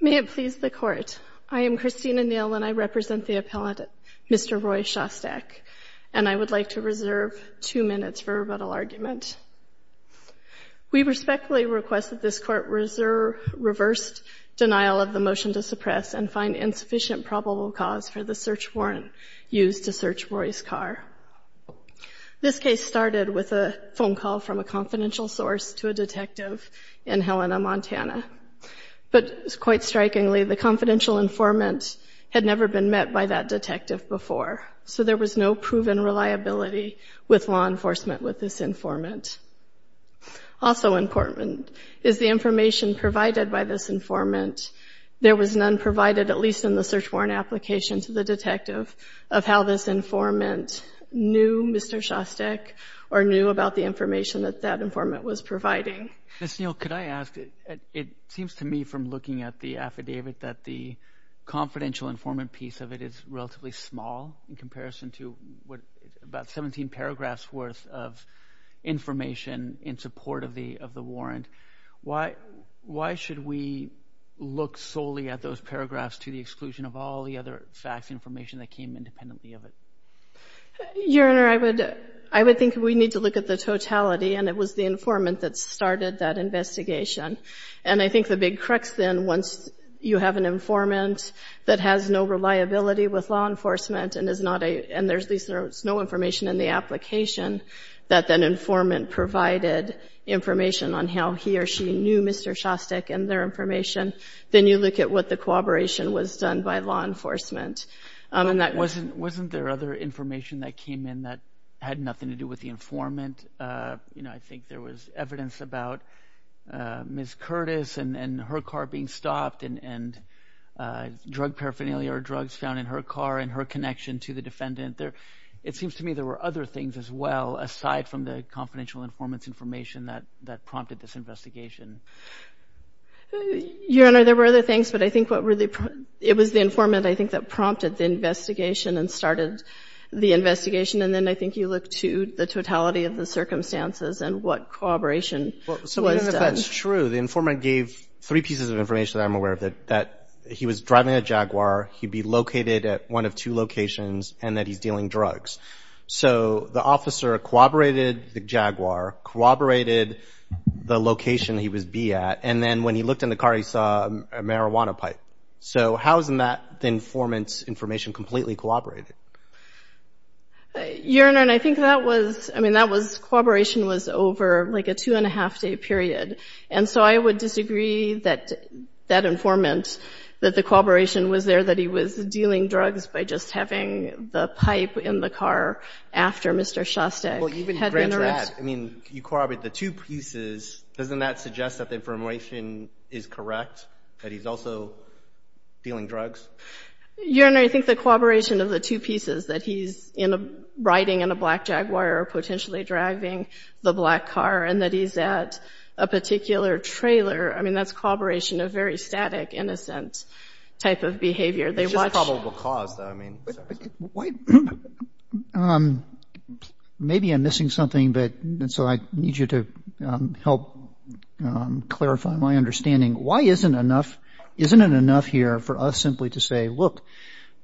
May it please the Court. I am Christina Neal and I represent the appellate Mr. Roy Shostak, and I would like to reserve two minutes for rebuttal argument. We respectfully request that this Court reserve reversed denial of the motion to suppress and find insufficient probable cause for the search warrant used to search Roy's car. This case started with a phone call from a confidential source to a detective in Helena, Montana, but quite strikingly the confidential informant had never been met by that detective before, so there was no proven reliability with law enforcement with this informant. Also important is the warrant application to the detective of how this informant knew Mr. Shostak or knew about the information that that informant was providing. Ms. Neal, could I ask, it seems to me from looking at the affidavit that the confidential informant piece of it is relatively small in comparison to about 17 paragraphs worth of information in support of the warrant. Why should we look solely at those paragraphs to the exclusion of all the other facts, information that came independently of it? Your Honor, I would think we need to look at the totality, and it was the informant that started that investigation. And I think the big crux then, once you have an informant that has no reliability with law enforcement and there's no information in the application that that informant provided information on how he or she knew Mr. Shostak and their information, then you look at what the cooperation was done by law enforcement. Wasn't there other information that came in that had nothing to do with the informant? You know, I think there was evidence about Ms. Curtis and her car being stopped and drug paraphernalia or drugs found in her car and her connection to the defendant. It seems to me there were other things as well, aside from the confidential informant's information that prompted this investigation. Your Honor, there were other things, but I think it was the informant, I think, that prompted the investigation and started the investigation. And then I think you look to the totality of the circumstances and what cooperation was done. So even if that's true, the informant gave three pieces of information that I'm aware of, that he was driving a Jaguar, he'd be located at one of two locations, and that he's dealing drugs. So the officer corroborated the Jaguar, corroborated the location he would be at, and then when he looked in the car, he saw a marijuana pipe. So how isn't that informant's information completely corroborated? Your Honor, I think that was, I mean, that was, corroboration was over like a two and a half day period. And so I would disagree that that the pipe in the car after Mr. Shostak had been arrested... Well, even grander, I mean, you corroborated the two pieces. Doesn't that suggest that the information is correct, that he's also dealing drugs? Your Honor, I think the corroboration of the two pieces, that he's riding in a black Jaguar or potentially driving the black car, and that he's at a particular trailer, I mean, that's corroboration of very static, innocent type of behavior. It's just probable cause, though. I mean... Why, maybe I'm missing something, but, and so I need you to help clarify my understanding. Why isn't enough, isn't it enough here for us simply to say, look,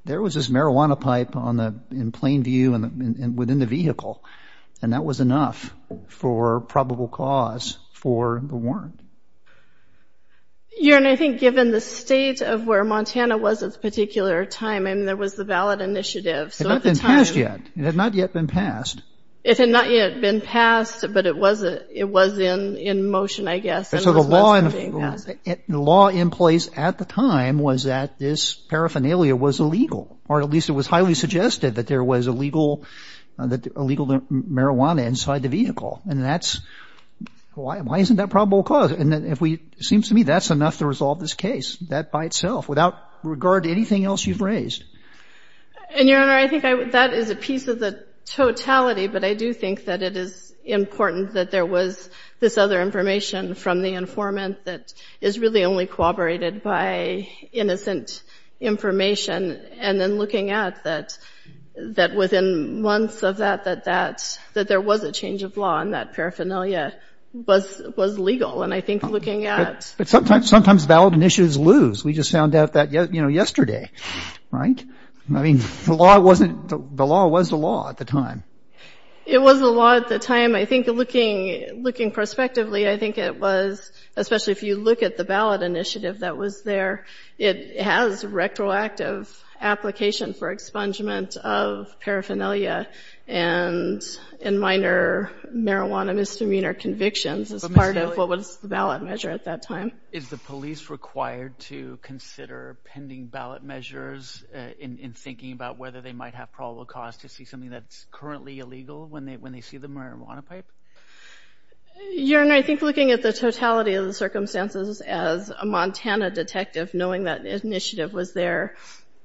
there was this marijuana pipe on the, in plain view, and within the vehicle, and that was enough for probable cause for the warrant? Your Honor, I think given the state of where Montana was at the particular time, and there was the valid initiative... It had not been passed yet. It had not yet been passed. It had not yet been passed, but it was in motion, I guess. And so the law in place at the time was that this paraphernalia was illegal, or at least it was highly suggested that there was illegal marijuana inside the vehicle, and that's, why isn't that probable cause? And if we, it seems to me that's enough to resolve this case, that by itself, without regard to anything else you've raised. And Your Honor, I think that is a piece of the totality, but I do think that it is important that there was this other information from the informant that is really only corroborated by innocent information, and then looking at that, that within months of that, that that, that there was a change of law, and that paraphernalia was legal, and I think looking at... Sometimes valid initiatives lose. We just found out that yesterday, right? I mean, the law wasn't, the law was the law at the time. It was the law at the time. I think looking, looking prospectively, I think it was, especially if you look at the valid initiative that was there, it has retroactive application for expungement of paraphernalia and in minor marijuana misdemeanor convictions as part of the ballot measure at that time. Is the police required to consider pending ballot measures in thinking about whether they might have probable cause to see something that's currently illegal when they see the marijuana pipe? Your Honor, I think looking at the totality of the circumstances as a Montana detective, knowing that initiative was there,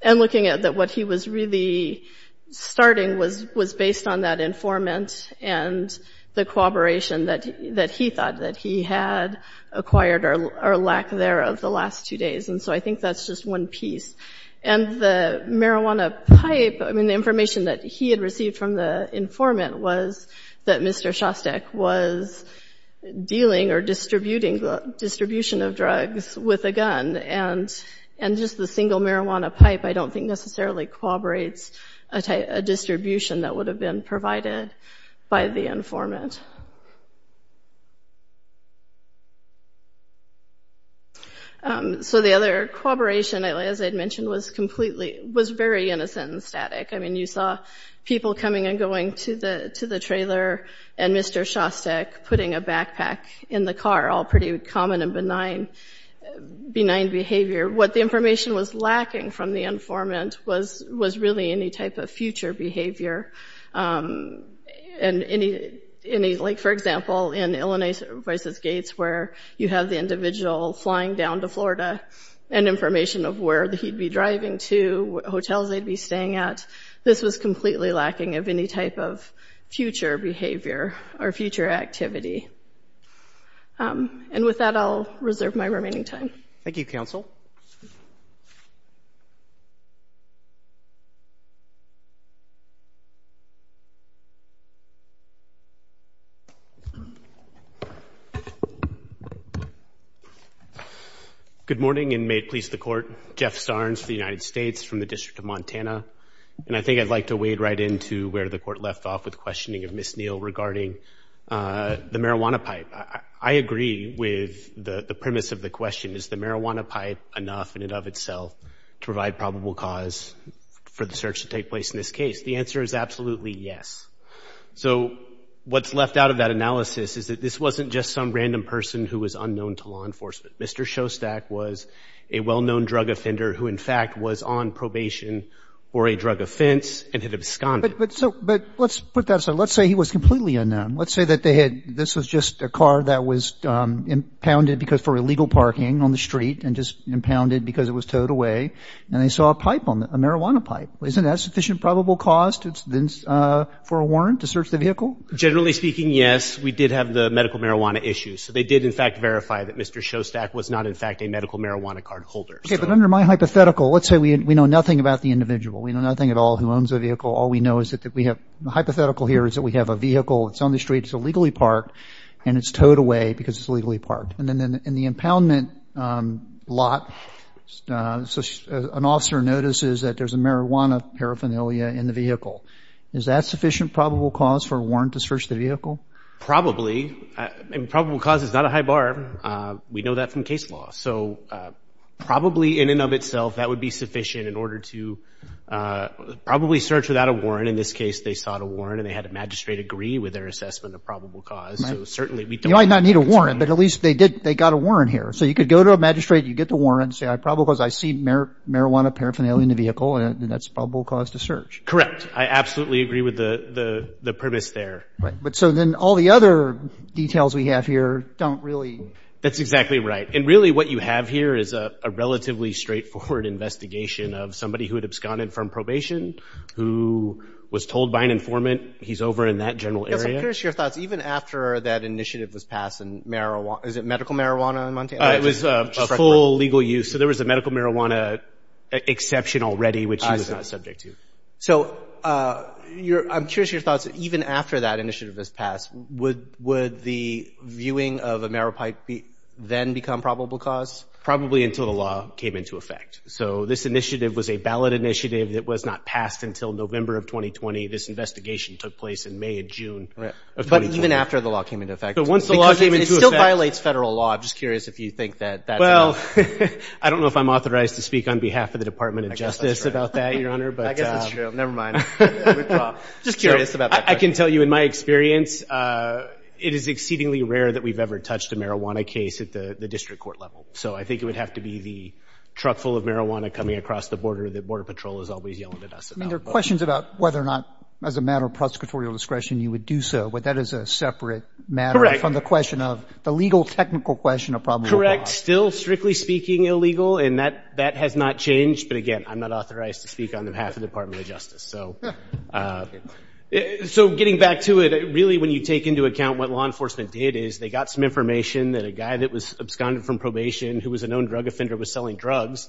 and looking at what he was really starting was based on that informant and the cooperation that he thought that he had acquired or lack there of the last two days. And so I think that's just one piece. And the marijuana pipe, I mean, the information that he had received from the informant was that Mr. Shostak was dealing or distributing the distribution of drugs with a gun. And, and just the single marijuana pipe, I don't think necessarily corroborates a distribution that would have been provided by the informant. So the other corroboration, as I'd mentioned, was completely, was very innocent and static. I mean, you saw people coming and going to the, to the trailer and Mr. Shostak putting a backpack in the car, all pretty common and benign, benign behavior. What the information was lacking from the informant was, was really any type of future behavior. And any, any, like, for example, in Illinois versus Gates, where you have the individual flying down to Florida and information of where he'd be driving to, hotels they'd be staying at. This was completely lacking of any type of future behavior or future activity. And with that, I'll reserve my remaining time. Thank you, counsel. Good morning, and may it please the Court. Jeff Sarnes, the United States, from the District of Montana. And I think I'd like to wade right into where the Court left off with questioning of Ms. Neal regarding the marijuana pipe. I agree with the premise of the question, is the marijuana pipe enough in and of itself to provide probable cause for the search to take place in this case? The answer is absolutely yes. So what's left out of that analysis is that this wasn't just some random person who was unknown to law enforcement. Mr. Shostak was a well-known drug offender who, in fact, was on probation for a drug offense and had absconded. But so, but let's put that aside. Let's say he was completely unknown. Let's say that they had, this was just a car that was impounded because for illegal parking on the street and just impounded because it was towed away. And they saw a pipe, a marijuana pipe. Isn't that sufficient probable cause for a warrant to search the vehicle? Generally speaking, yes. We did have the medical marijuana issue. So they did, in fact, verify that Mr. Shostak was not, in fact, a medical marijuana card holder. But under my hypothetical, let's say we know nothing about the individual. We know nothing at all who owns the vehicle. All we know is that we have, the hypothetical here is that we have a vehicle that's on the street. It's illegally parked and it's towed away because it's illegally parked. And then in the impoundment lot, an officer notices that there's a marijuana paraphernalia in the vehicle. Is that sufficient probable cause for a warrant to search the vehicle? Probably. Probable cause is not a high bar. We know that from case law. So probably in and of itself, that would be sufficient in order to probably search without a warrant. In this case, they sought a warrant and they had a magistrate agree with their assessment of probable cause. So certainly we don't need a warrant. You might not need a warrant, but at least they got a warrant here. So you could go to a magistrate, you get the warrant and say, I see marijuana paraphernalia in the vehicle and that's probable cause to search. Correct. I absolutely agree with the premise there. Right. But so then all the other details we have here don't really... That's exactly right. And really what you have here is a relatively straightforward investigation of somebody who had absconded from probation, who was told by an informant he's over in that general area. Yes. I'm curious your thoughts. Even after that initiative was passed and marijuana... Is it medical marijuana in Montana? It was a full legal use. So there was a medical marijuana exception already, which he was not subject to. So I'm curious your thoughts. Even after that initiative was passed, would the viewing of a maripipe then become probable cause? Probably until the law came into effect. So this initiative was a ballot initiative. It was not passed until November of 2020. This investigation took place in May and June of 2020. But even after the law came into effect... But once the law came into effect... It still violates federal law. I'm just curious if you think that that's enough. Well, I don't know if I'm authorized to speak on behalf of the Department of Justice about that, Your Honor, but... I guess that's true. Nevermind. Just curious about that. I can tell you in my experience, it is exceedingly rare that we've ever touched a marijuana case at the district court level. So I think it would have to be the truck full of marijuana coming across the border that Border Patrol is always yelling at us about. I mean, there are questions about whether or not, as a matter of prosecutorial discretion, you would do so. But that is a separate matter... Correct. ...from the question of the legal technical question of probable cause. Correct. Still, strictly speaking, illegal. And that has not changed. But again, I'm not authorized to speak on behalf of the Department of Justice. So getting back to it, really, when you take into account what law enforcement did is they got some information that a guy that was absconded from probation, who was a known drug offender, was selling drugs.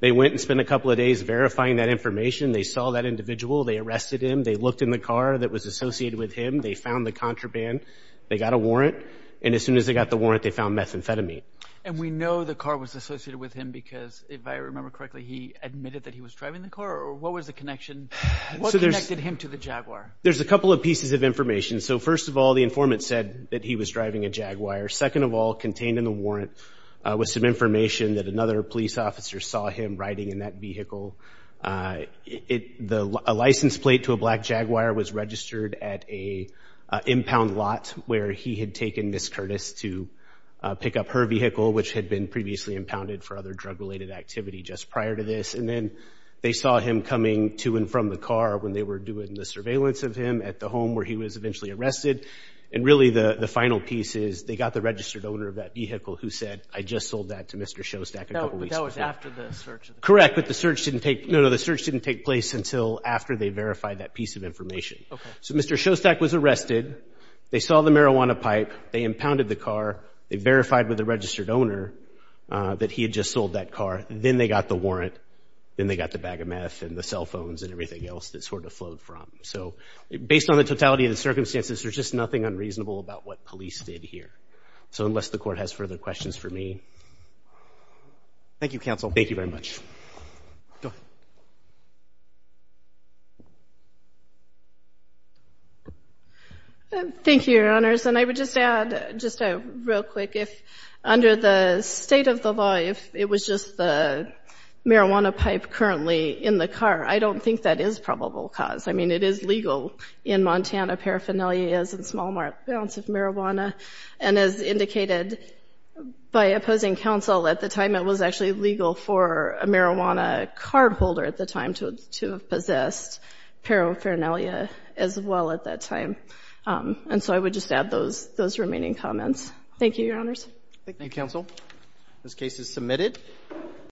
They went and spent a couple of days verifying that information. They saw that individual. They arrested him. They looked in the car that was associated with him. They found the contraband. They got a warrant. And as soon as they got the warrant, they found methamphetamine. And we know the car was associated with him because, if I remember correctly, he admitted that he was driving the car? Or what was the connection? What connected him to the Jaguar? There's a couple of pieces of information. So first of all, the informant said that he was driving a Jaguar. Second of all, contained in the warrant was some information that another police officer saw him riding in that vehicle. A license plate to a black Jaguar was registered at an impound lot where he had taken Ms. Curtis to pick up her vehicle, which had been previously impounded for other drug-related activity just prior to this. And then they saw him coming to and from the car when they were doing the surveillance of him at the home where he was eventually arrested. And really, the final piece is they got the registered owner of that vehicle who said, I just sold that to Mr. Shostak a couple weeks ago. But that was after the search? Correct. But the search didn't take place until after they verified that piece of information. So Mr. Shostak was arrested. They saw the marijuana pipe. They impounded the car. They verified with the registered owner that he had just sold that car. Then they got the warrant. Then they got the bag of meth and the cell phones and everything else that sort of flowed from. So based on the totality of the circumstances, there's just nothing unreasonable about what police did here. So unless the Court has further questions for me. Thank you, counsel. Thank you very much. Thank you, Your Honors. And I would just add, just real quick, if under the state of the law, if it was just the marijuana pipe currently in the car, I don't think that is probable cause. It is legal in Montana. Paraphernalia is in small amounts of marijuana. And as indicated by opposing counsel at the time, it was actually legal for a marijuana card holder at the time to have possessed paraphernalia as well at that time. And so I would just add those remaining comments. Thank you, Your Honors. Thank you, counsel. This case is submitted.